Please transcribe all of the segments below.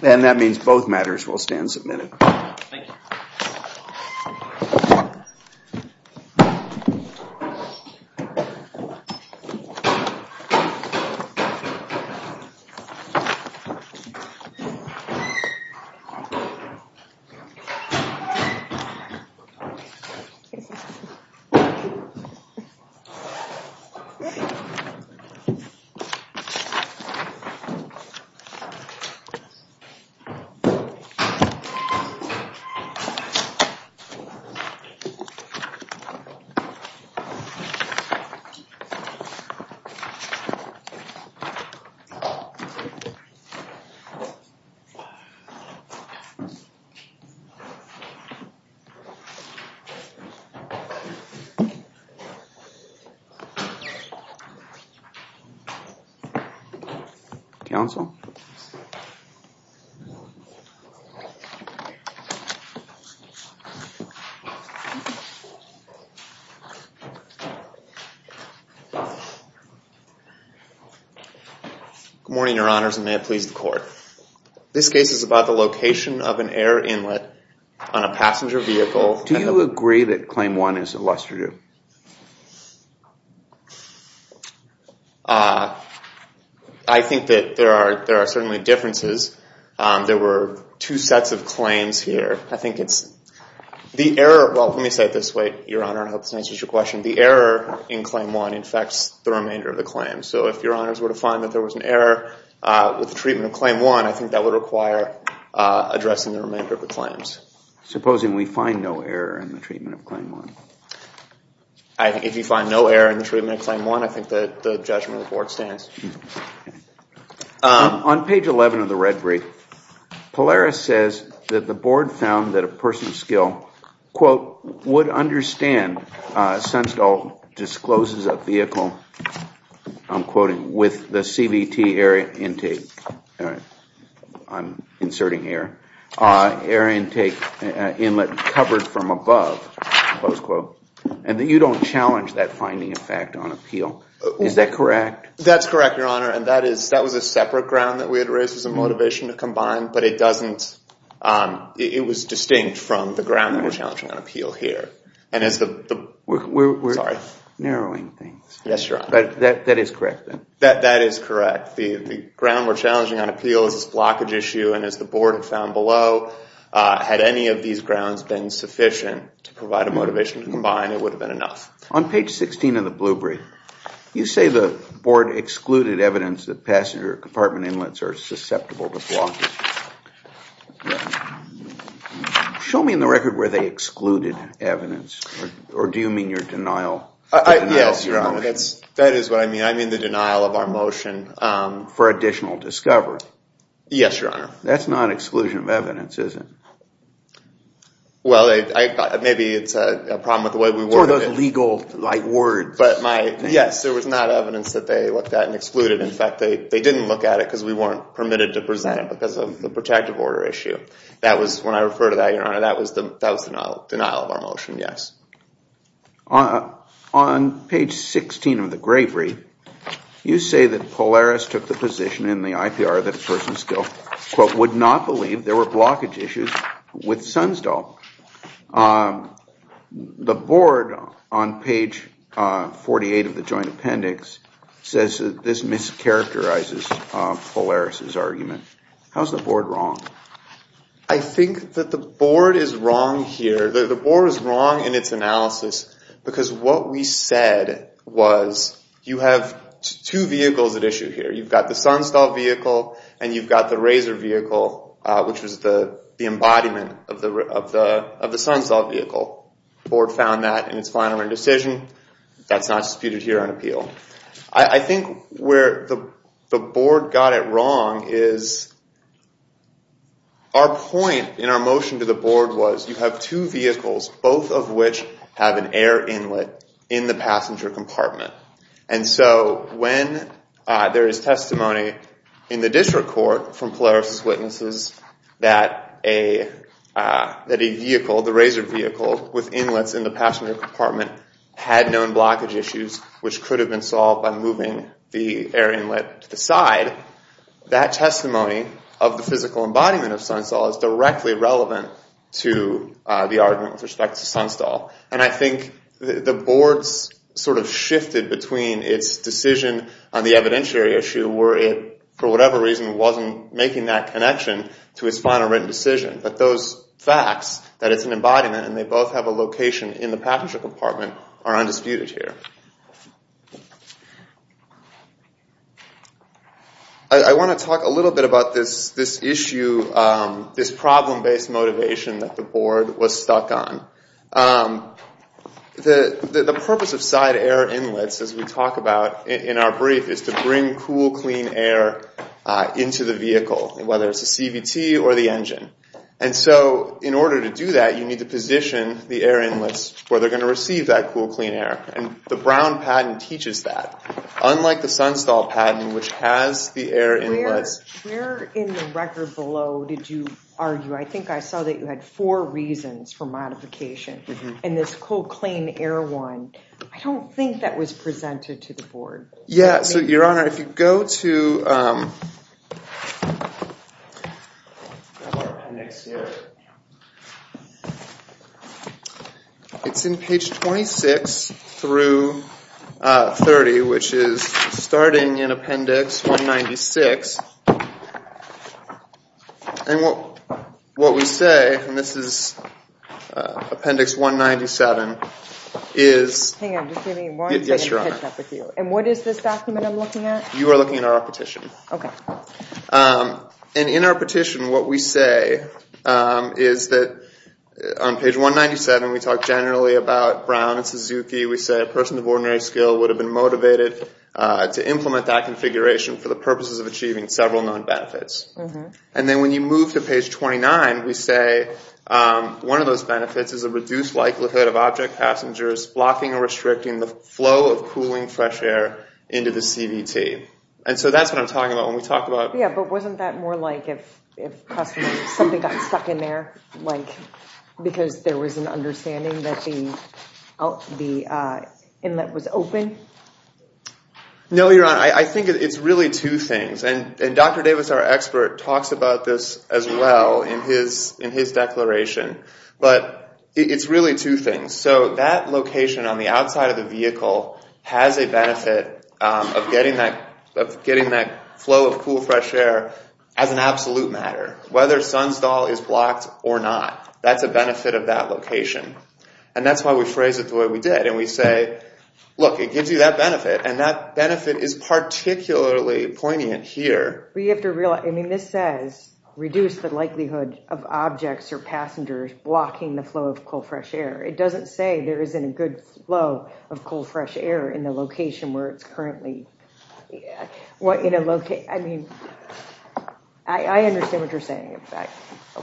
And that means both matters will stand submitted. Thank you. Thank you. Thank you. Thank you. Thank you. Thank you. Thank you. Thank you. Thank you. Thank you. Thank you. Thank you. Thank you. Thank you. Thank you. Good morning, Your Honors, and may it please the Court. This case is about the location of an air inlet on a passenger vehicle. Do you agree that Claim 1 is illustrative? I think that there are certainly differences. There were two sets of claims here. I think it's the error of, well, let me say it this way, Your Honor, I hope this answers your question. The error in Claim 1 infects the remainder of the claim. So if Your Honors were to find that there was an error with the treatment of Claim 1, I think that would require addressing the remainder of the claims. Supposing we find no error in the treatment of Claim 1? I think if you find no error in the treatment of Claim 1, I think the judgment of the Board stands. On page 11 of the red brief, Polaris says that the Board found that a person of skill, quote, would understand, Sunstall discloses a vehicle, I'm quoting, with the CVT air intake, I'm inserting air, air intake inlet covered from above, close quote, and that you don't challenge that finding of fact on appeal. Is that correct? That's correct, Your Honor, and that was a separate ground that we had raised as a motivation to combine, but it doesn't, it was distinct from the ground that we're challenging on appeal here. And as the, sorry. We're narrowing things. Yes, Your Honor. But that is correct then? That is correct. The ground we're challenging on appeal is this blockage issue, and as the Board had found below, had any of these grounds been sufficient to provide a motivation to combine, it would have been enough. On page 16 of the blue brief, you say the Board excluded evidence that passenger compartment inlets are susceptible to blocking. Show me in the record where they excluded evidence, or do you mean your denial? Yes, Your Honor, that is what I mean. I mean the denial of our motion. For additional discovery. Yes, Your Honor. That's not exclusion of evidence, is it? Well, maybe it's a problem with the way we worded it. It's one of those legal words. Yes, there was not evidence that they looked at and excluded. In fact, they didn't look at it because we weren't permitted to present because of the protective order issue. When I refer to that, Your Honor, that was the denial of our motion, yes. On page 16 of the gray brief, you say that Polaris took the position in the IPR that a person still, quote, would not believe there were blockage issues with Sunstall. The Board, on page 48 of the joint appendix, says that this mischaracterizes Polaris' argument. How is the Board wrong? I think that the Board is wrong here. The Board is wrong in its analysis because what we said was you have two vehicles at issue here. You've got the Sunstall vehicle and you've got the Razor vehicle, which was the embodiment of the Sunstall vehicle. The Board found that in its final decision. That's not disputed here on appeal. I think where the Board got it wrong is our point in our motion to the Board was you have two vehicles, both of which have an air inlet in the passenger compartment. And so when there is testimony in the district court from Polaris' witnesses that a vehicle, the Razor vehicle, with inlets in the passenger compartment had known blockage issues which could have been solved by moving the air inlet to the side, that testimony of the physical embodiment of Sunstall is directly relevant to the argument with respect to Sunstall. And I think the Board's sort of shifted between its decision on the evidentiary issue where it, for whatever reason, wasn't making that connection to its final written decision. But those facts, that it's an embodiment and they both have a location in the passenger compartment, are undisputed here. I want to talk a little bit about this issue, this problem-based motivation that the Board was stuck on. The purpose of side air inlets, as we talk about in our brief, is to bring cool, clean air into the vehicle, whether it's a CVT or the engine. And so in order to do that, you need to position the air inlets where they're going to receive that cool, clean air. And the Brown Patent teaches that, unlike the Sunstall Patent, which has the air inlets. Where in the record below did you argue? I think I saw that you had four reasons for modification. And this cool, clean air one, I don't think that was presented to the Board. Yeah, so Your Honor, if you go to our appendix here, it's in page 26 through 30, which is starting in appendix 196. And what we say, and this is appendix 197, is... Hang on, just give me one second to catch up with you. Yes, Your Honor. And what is this document I'm looking at? You are looking at our petition. Okay. And in our petition, what we say is that on page 197, we talk generally about Brown and Suzuki. We say a person of ordinary skill would have been motivated to implement that configuration for the purposes of achieving several known benefits. And then when you move to page 29, we say one of those benefits is a reduced likelihood of object passengers blocking or restricting the flow of cooling fresh air into the CVT. And so that's what I'm talking about when we talk about... Yeah, but wasn't that more like if something got stuck in there, like because there was an understanding that the inlet was open? No, Your Honor. I think it's really two things. And Dr. Davis, our expert, talks about this as well in his declaration. But it's really two things. So that location on the outside of the vehicle has a benefit of getting that flow of cool, fresh air as an absolute matter. Whether Sunstall is blocked or not, that's a benefit of that location. And that's why we phrase it the way we did. And we say, look, it gives you that benefit, and that benefit is particularly poignant here. But you have to realize, I mean, this says reduce the likelihood of objects or passengers blocking the flow of cool, fresh air. It doesn't say there isn't a good flow of cool, fresh air in the location where it's currently... I mean, I understand what you're saying.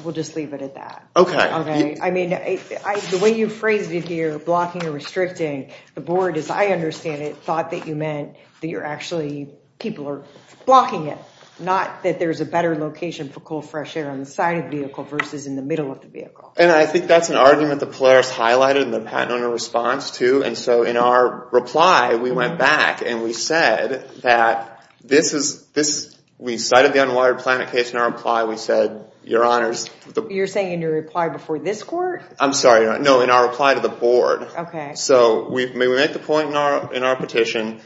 We'll just leave it at that. Okay. I mean, the way you phrased it here, blocking or restricting, the board, as I understand it, thought that you meant that you're actually, people are blocking it, not that there's a better location for cool, fresh air on the side of the vehicle versus in the middle of the vehicle. And I think that's an argument that Polaris highlighted in their patent owner response, too. And so in our reply, we went back and we said that this is... We cited the unwired planet case in our reply. We said, Your Honors... You're saying in your reply before this court? I'm sorry. No, in our reply to the board. Okay. So we make the point in our petition,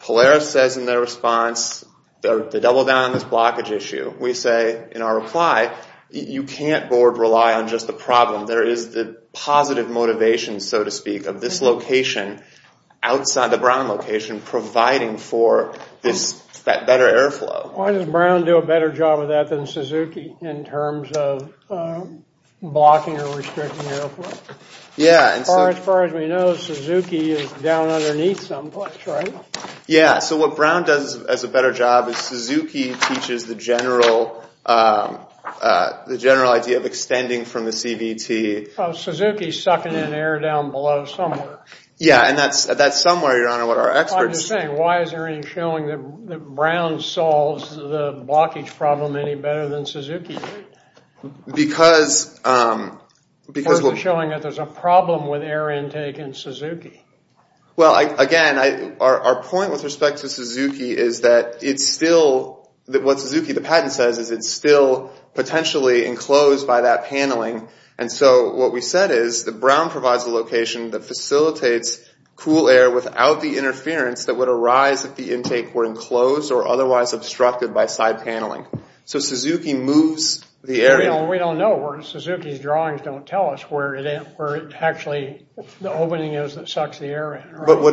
Polaris says in their response, the double down on this blockage issue. We say in our reply, you can't, board, rely on just the problem. There is the positive motivation, so to speak, of this location outside the Brown location providing for this better airflow. Why does Brown do a better job of that than Suzuki in terms of blocking or restricting airflow? Yeah. As far as we know, Suzuki is down underneath someplace, right? Yeah. So what Brown does as a better job is Suzuki teaches the general idea of extending from the CVT... Suzuki is sucking in air down below somewhere. Yeah, and that's somewhere, Your Honor, what our experts... I'm just saying, why is there any showing that Brown solves the blockage problem any better than Suzuki? Because... Because we're showing that there's a problem with air intake in Suzuki. Well, again, our point with respect to Suzuki is that it's still... And so what we said is that Brown provides a location that facilitates cool air without the interference that would arise if the intake were enclosed or otherwise obstructed by side paneling. So Suzuki moves the area... We don't know. Suzuki's drawings don't tell us where it actually... the opening is that sucks the air in, right? Well,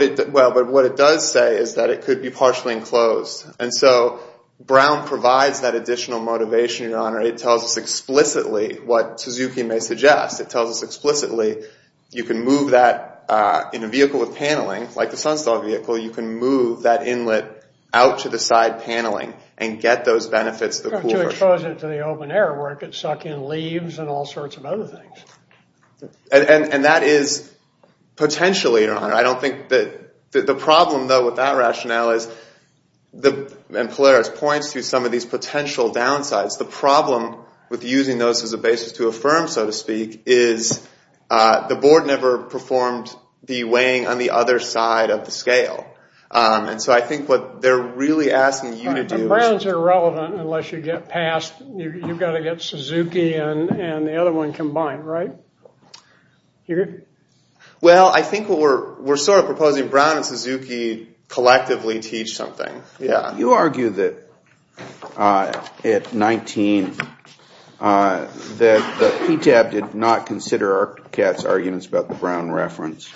but what it does say is that it could be partially enclosed. And so Brown provides that additional motivation, Your Honor. It tells us explicitly what Suzuki may suggest. It tells us explicitly you can move that... In a vehicle with paneling, like the Sunstar vehicle, you can move that inlet out to the side paneling and get those benefits of the cool air. To expose it to the open air where it could suck in leaves and all sorts of other things. And that is potentially, Your Honor. I don't think that... The problem, though, with that rationale is... And Polaris points to some of these potential downsides. The problem with using those as a basis to affirm, so to speak, is the board never performed the weighing on the other side of the scale. And so I think what they're really asking you to do... The Browns are irrelevant unless you get past... You've got to get Suzuki and the other one combined, right? You agree? Well, I think what we're sort of proposing, Brown and Suzuki collectively teach something. You argue that, at 19, that PTAB did not consider Arctic Cat's arguments about the Brown reference.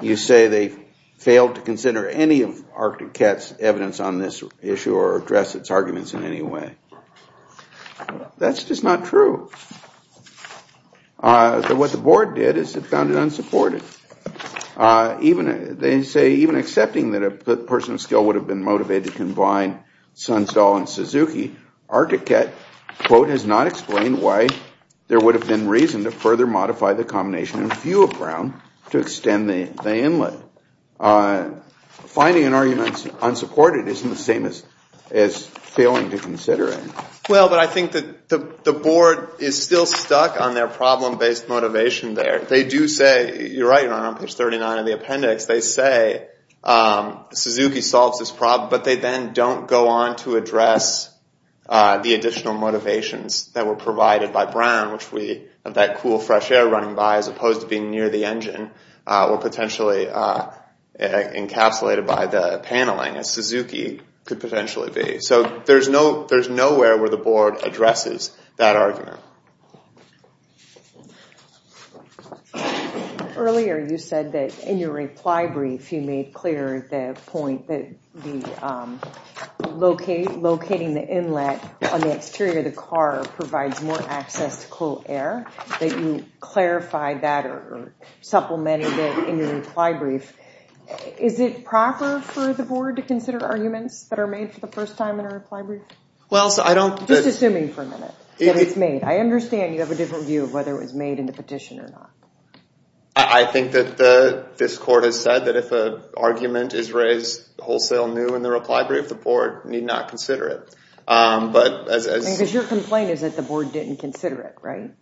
You say they failed to consider any of Arctic Cat's evidence on this issue or address its arguments in any way. That's just not true. What the board did is it found it unsupportive. They say, even accepting that a person of skill would have been motivated to combine Sunstall and Suzuki, Arctic Cat, quote, has not explained why there would have been reason to further modify the combination of a few of Brown to extend the inlet. Finding an argument unsupported isn't the same as failing to consider it. Well, but I think that the board is still stuck on their problem-based motivation there. They do say, you're right, on page 39 of the appendix, they say Suzuki solves this problem, but they then don't go on to address the additional motivations that were provided by Brown, which we have that cool, fresh air running by, as opposed to being near the engine, or potentially encapsulated by the paneling, as Suzuki could potentially be. So there's nowhere where the board addresses that argument. Earlier you said that in your reply brief you made clear the point that locating the inlet on the exterior of the car provides more access to cool air, that you clarified that or supplemented it in your reply brief. Is it proper for the board to consider arguments that are made for the first time in a reply brief? Just assuming for a minute that it's made. I understand you have a different view of whether it was made in the petition or not. I think that this court has said that if an argument is raised wholesale new in the reply brief, the board need not consider it. Because your complaint is that the board didn't consider it, right?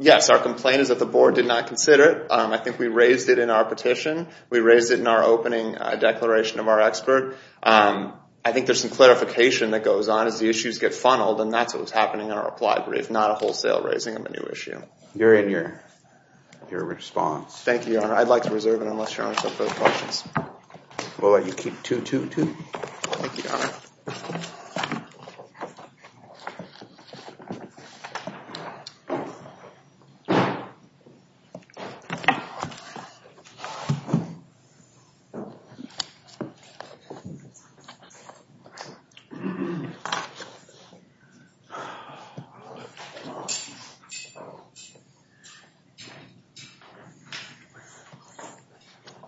Yes, our complaint is that the board did not consider it. I think we raised it in our petition. We raised it in our opening declaration of our expert. I think there's some clarification that goes on as the issues get funneled, and that's what was happening in our reply brief, not a wholesale raising of a new issue. You're in your response. Thank you, Your Honor. I'd like to reserve it unless Your Honor has some further questions. We'll let you keep 2-2-2. Thank you, Your Honor.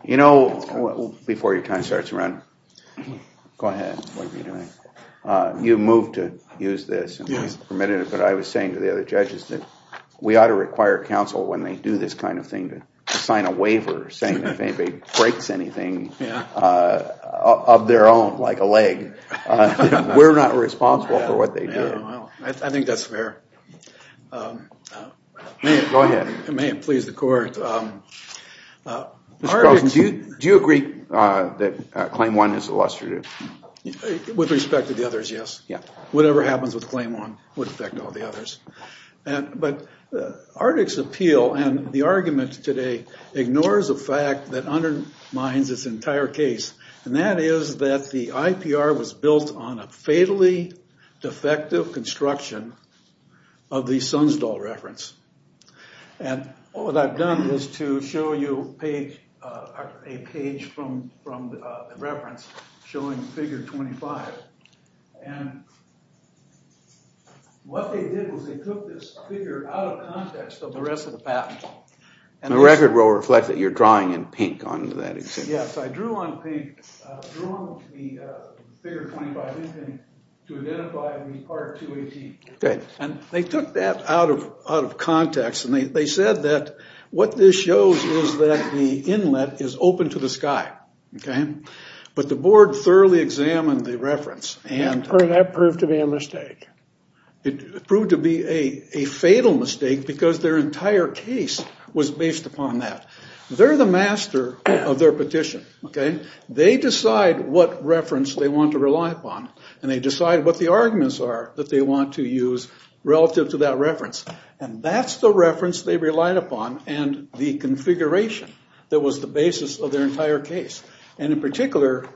You know, before your time starts to run, go ahead. You moved to use this, but I was saying to the other judges that we ought to require counsel when they do this kind of thing to sign a waiver saying if anybody breaks anything of their own, like a leg, we're not responsible for what they do. I think that's fair. Go ahead. It may have pleased the court. Mr. Carlson, do you agree that Claim 1 is illustrative? With respect to the others, yes. Whatever happens with Claim 1 would affect all the others. But ARDIC's appeal and the argument today ignores a fact that undermines this entire case, and that is that the IPR was built on a fatally defective construction of the Sunsdall reference. And what I've done is to show you a page from the reference showing Figure 25. And what they did was they took this figure out of context of the rest of the patent. The record will reflect that you're drawing in pink on that. Yes, I drew on the Figure 25 to identify the Part 218. And they took that out of context, and they said that what this shows is that the inlet is open to the sky. But the board thoroughly examined the reference. And that proved to be a mistake. It proved to be a fatal mistake because their entire case was based upon that. They're the master of their petition. They decide what reference they want to rely upon, and they decide what the arguments are that they want to use relative to that reference. And that's the reference they relied upon and the configuration that was the basis of their entire case, and in particular,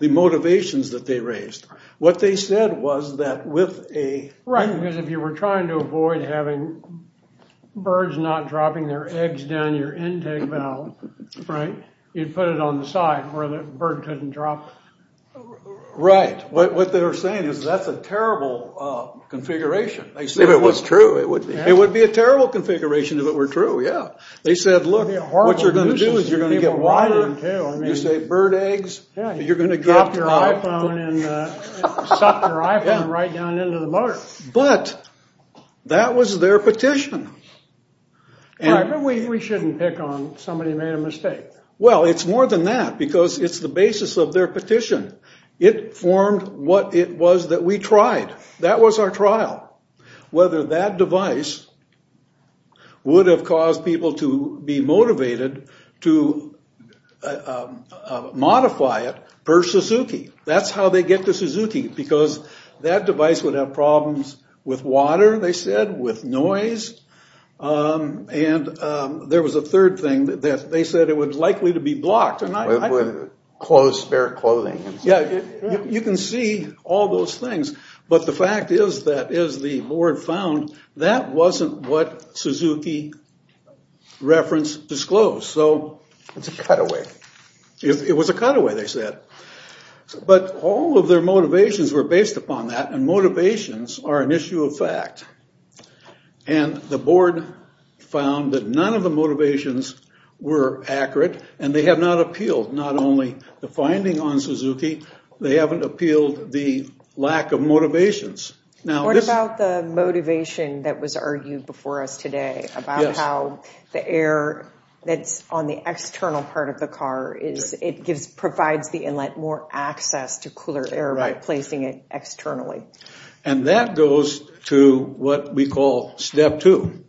the motivations that they raised. What they said was that with a... Right, because if you were trying to avoid having birds not dropping their eggs down your intake valve, right, you'd put it on the side where the bird couldn't drop. Right. What they were saying is that's a terrible configuration. If it was true, it would be. It would be a terrible configuration if it were true, yeah. They said, look, what you're going to do is you're going to get water, you save bird eggs, you're going to get... Suck your iPhone right down into the motor. But that was their petition. Right, but we shouldn't pick on somebody who made a mistake. Well, it's more than that because it's the basis of their petition. It formed what it was that we tried. That was our trial, whether that device would have caused people to be motivated to modify it per Suzuki. That's how they get to Suzuki because that device would have problems with water, they said, with noise. And there was a third thing that they said it was likely to be blocked. It would close spare clothing. Yeah, you can see all those things. But the fact is that as the board found, that wasn't what Suzuki reference disclosed. So... It's a cutaway. It was a cutaway, they said. But all of their motivations were based upon that, and motivations are an issue of fact. And the board found that none of the motivations were accurate, and they have not appealed not only the finding on Suzuki, they haven't appealed the lack of motivations. What about the motivation that was argued before us today about how the external part of the car, it provides the inlet more access to cooler air by placing it externally. And that goes to what we call Step 2.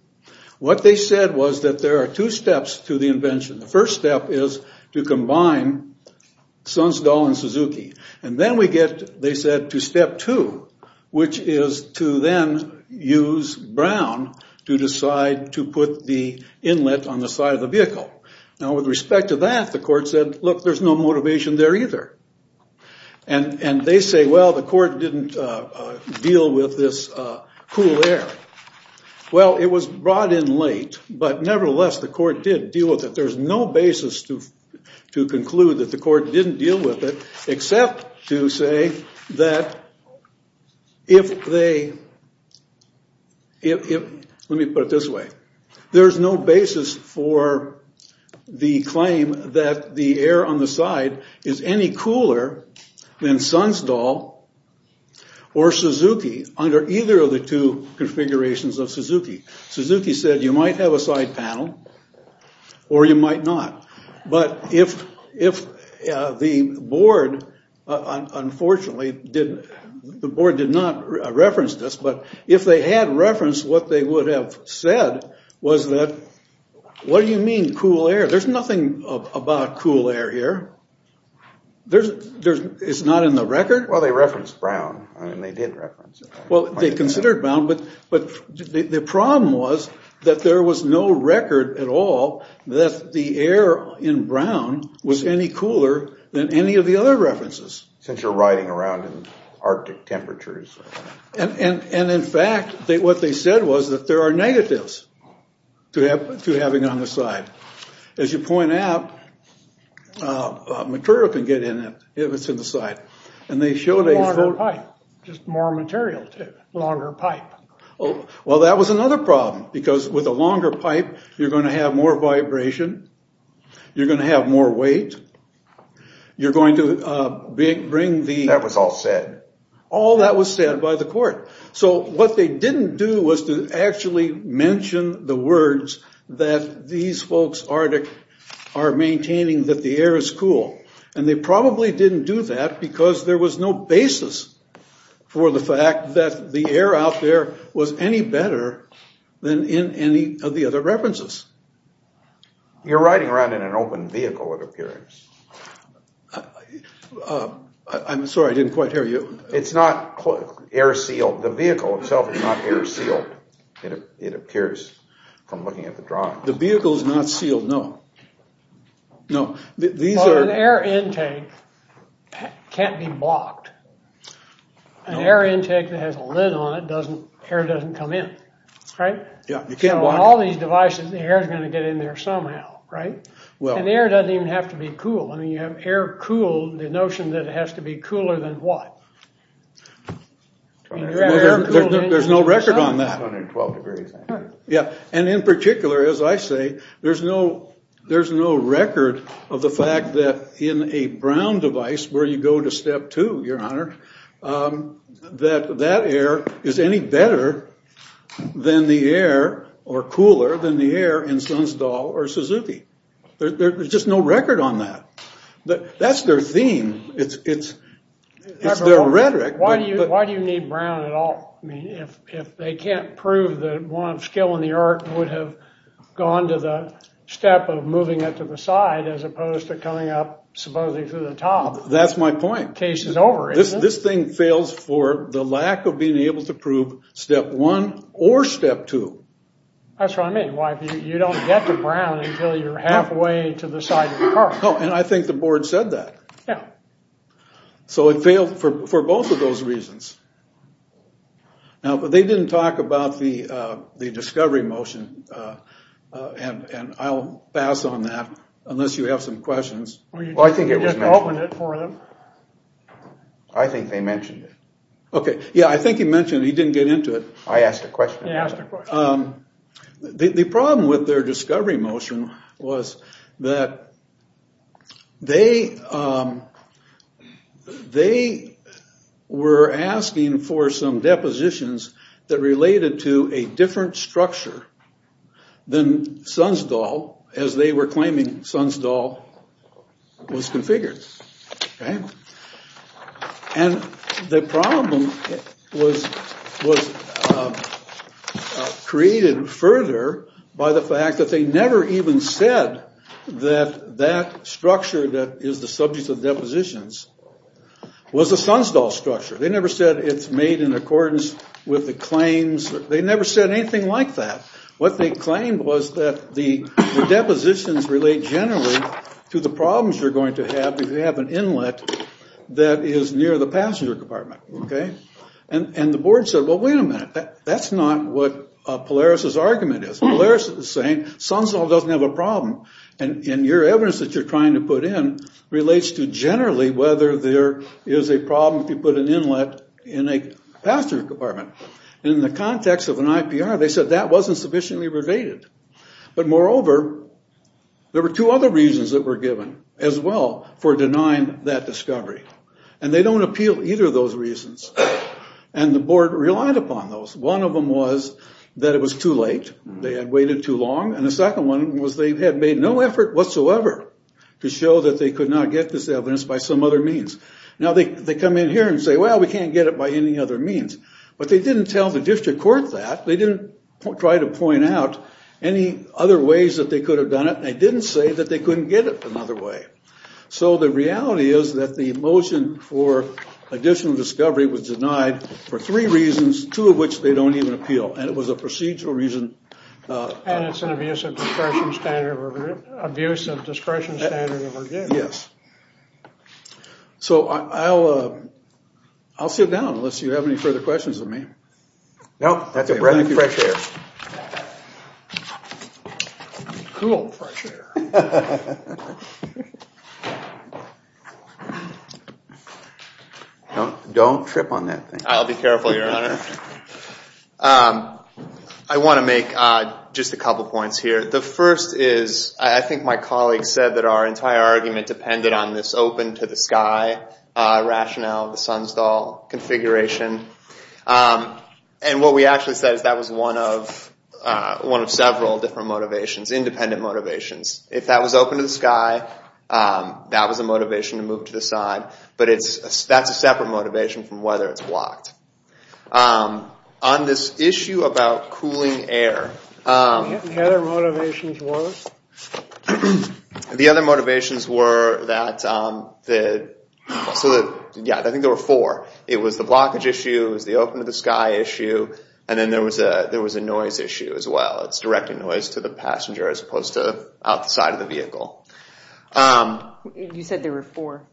What they said was that there are two steps to the invention. The first step is to combine Suns Doll and Suzuki. And then we get, they said, to Step 2, which is to then use Brown to decide to put the inlet on the side of the car. Now, with respect to that, the court said, look, there's no motivation there either. And they say, well, the court didn't deal with this cool air. Well, it was brought in late, but nevertheless, the court did deal with it. There's no basis to conclude that the court didn't deal with it, except to say that if they, if, let me put it this way, there's no basis for the claim that the air on the side is any cooler than Suns Doll or Suzuki under either of the two configurations of Suzuki. Suzuki said you might have a side panel or you might not. But if the board, unfortunately, did, the board did not reference this, but if they had referenced what they would have said was that, what do you mean cool air? There's nothing about cool air here. There's, it's not in the record? Well, they referenced Brown. I mean, they did reference it. Well, they considered Brown, but the problem was that there was no record at all that the air in Brown was any cooler than any of the other references. Since you're riding around in Arctic temperatures. And in fact, what they said was that there are negatives to having on the side. As you point out, material can get in it if it's in the side. And they showed a. Longer pipe. Just more material, too. Longer pipe. Well, that was another problem, because with a longer pipe, you're going to have more vibration. You're going to have more weight. You're going to bring the. That was all said. All that was said by the court. So what they didn't do was to actually mention the words that these folks, Arctic, are maintaining that the air is cool. And they probably didn't do that because there was no basis for the fact that the air out there was any better than in any of the other references. You're riding around in an open vehicle, it appears. I'm sorry, I didn't quite hear you. It's not air sealed. The vehicle itself is not air sealed. It appears from looking at the drawing. The vehicle is not sealed, no. No. These are. An air intake can't be blocked. An air intake that has a lid on it doesn't. Air doesn't come in. Right. You can't. All these devices, the air is going to get in there somehow. Right. And air doesn't even have to be cool. I mean, you have air cool, the notion that it has to be cooler than what? There's no record on that. 112 degrees. Yeah. And in particular, as I say, there's no record of the fact that in a brown device where you go to step two, your honor, that that air is any better than the air or cooler than the air in Sunstall or Suzuki. There's just no record on that. That's their theme. It's their rhetoric. Why do you need brown at all? I mean, if they can't prove that one skill in the art would have gone to the step of moving it to the side as opposed to coming up supposedly to the top. That's my point. Case is over, isn't it? This thing fails for the lack of being able to prove step one or step two. That's what I mean. You don't get the brown until you're halfway to the side of the car. Oh, and I think the board said that. Yeah. So it failed for both of those reasons. Now, they didn't talk about the discovery motion, and I'll pass on that unless you have some questions. Well, you didn't just open it for them. I think they mentioned it. Okay. Yeah, I think he mentioned it. He didn't get into it. I asked a question. He asked a question. The problem with their discovery motion was that they were asking for some depositions that related to a different structure than Sunstall, as they were saying, was configured. And the problem was created further by the fact that they never even said that that structure that is the subject of depositions was a Sunstall structure. They never said it's made in accordance with the claims. They never said anything like that. What they claimed was that the depositions relate generally to the problems you're going to have if you have an inlet that is near the passenger compartment. Okay? And the board said, well, wait a minute. That's not what Polaris' argument is. Polaris is saying Sunstall doesn't have a problem, and your evidence that you're trying to put in relates to generally whether there is a problem if you put an inlet in a passenger compartment. And in the context of an IPR, they said that wasn't sufficiently related. But moreover, there were two other reasons that were given as well for denying that discovery. And they don't appeal either of those reasons, and the board relied upon those. One of them was that it was too late. They had waited too long. And the second one was they had made no effort whatsoever to show that they could not get this evidence by some other means. Now, they come in here and say, well, we can't get it by any other means. But they didn't tell the district court that. They didn't try to point out any other ways that they could have done it. They didn't say that they couldn't get it another way. So the reality is that the motion for additional discovery was denied for three reasons, two of which they don't even appeal. And it was a procedural reason. And it's an abuse of discretion standard of review. Abuse of discretion standard of review. Yes. So I'll sit down, unless you have any further questions of me. Nope. That's a breath of fresh air. Cool fresh air. Don't trip on that thing. I'll be careful, Your Honor. I want to make just a couple points here. The first is, I think my colleague said that our entire argument depended on this open to the sky rationale of the Sunstall configuration. And what we actually said is that was one of several different motivations, independent motivations. If that was open to the sky, that was a motivation to move to the side. But that's a separate motivation from whether it's blocked. On this issue about cooling air. The other motivations was? I think there were four. It was the blockage issue. It was the open to the sky issue. And then there was a noise issue as well. It's directing noise to the passenger as opposed to outside of the vehicle. You said there were four.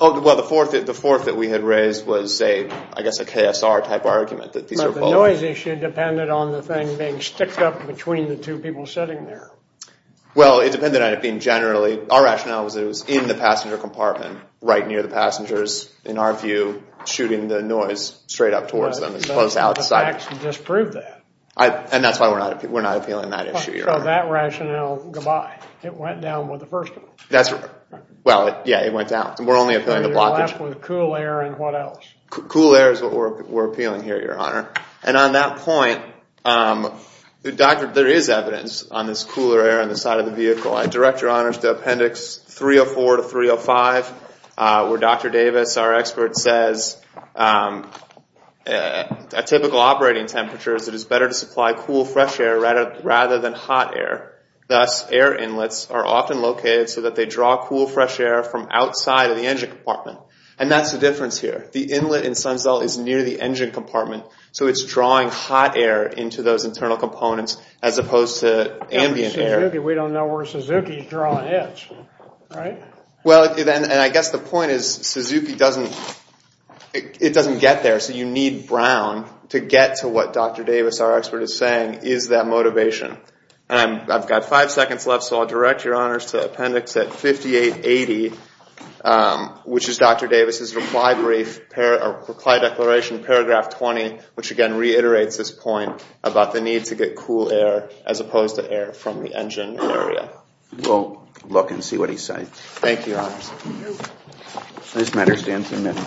Well, the fourth that we had raised was, I guess, a KSR type argument. The noise issue depended on the thing being sticked up between the two people sitting there. Well, it depended on it being generally. Our rationale was it was in the passenger compartment right near the passengers, in our view, shooting the noise straight up towards them as opposed to outside. But the facts disprove that. And that's why we're not appealing that issue, Your Honor. So that rationale, goodbye. It went down with the first one. That's right. Well, yeah, it went down. We're only appealing the blockage. You're left with cool air and what else? Cool air is what we're appealing here, Your Honor. And on that point, there is evidence on this cooler air on the side of the vehicle. I direct Your Honor to Appendix 304 to 305, where Dr. Davis, our expert, says, at typical operating temperatures, it is better to supply cool, fresh air rather than hot air. Thus, air inlets are often located so that they draw cool, fresh air from outside of the engine compartment. And that's the difference here. The inlet in Sunsell is near the engine compartment, so it's drawing hot air into those internal components as opposed to ambient air. Suzuki, we don't know where Suzuki is drawing it. Right? Well, and I guess the point is Suzuki doesn't get there, so you need Brown to get to what Dr. Davis, our expert, is saying is that motivation. And I've got five seconds left, so I'll direct Your Honors to Appendix 5880, which is Dr. Davis's reply declaration, Paragraph 20, which, again, reiterates this point about the need to get cool air as opposed to air from the engine area. We'll look and see what he's saying. Thank you, Your Honors. This matter stands admitted.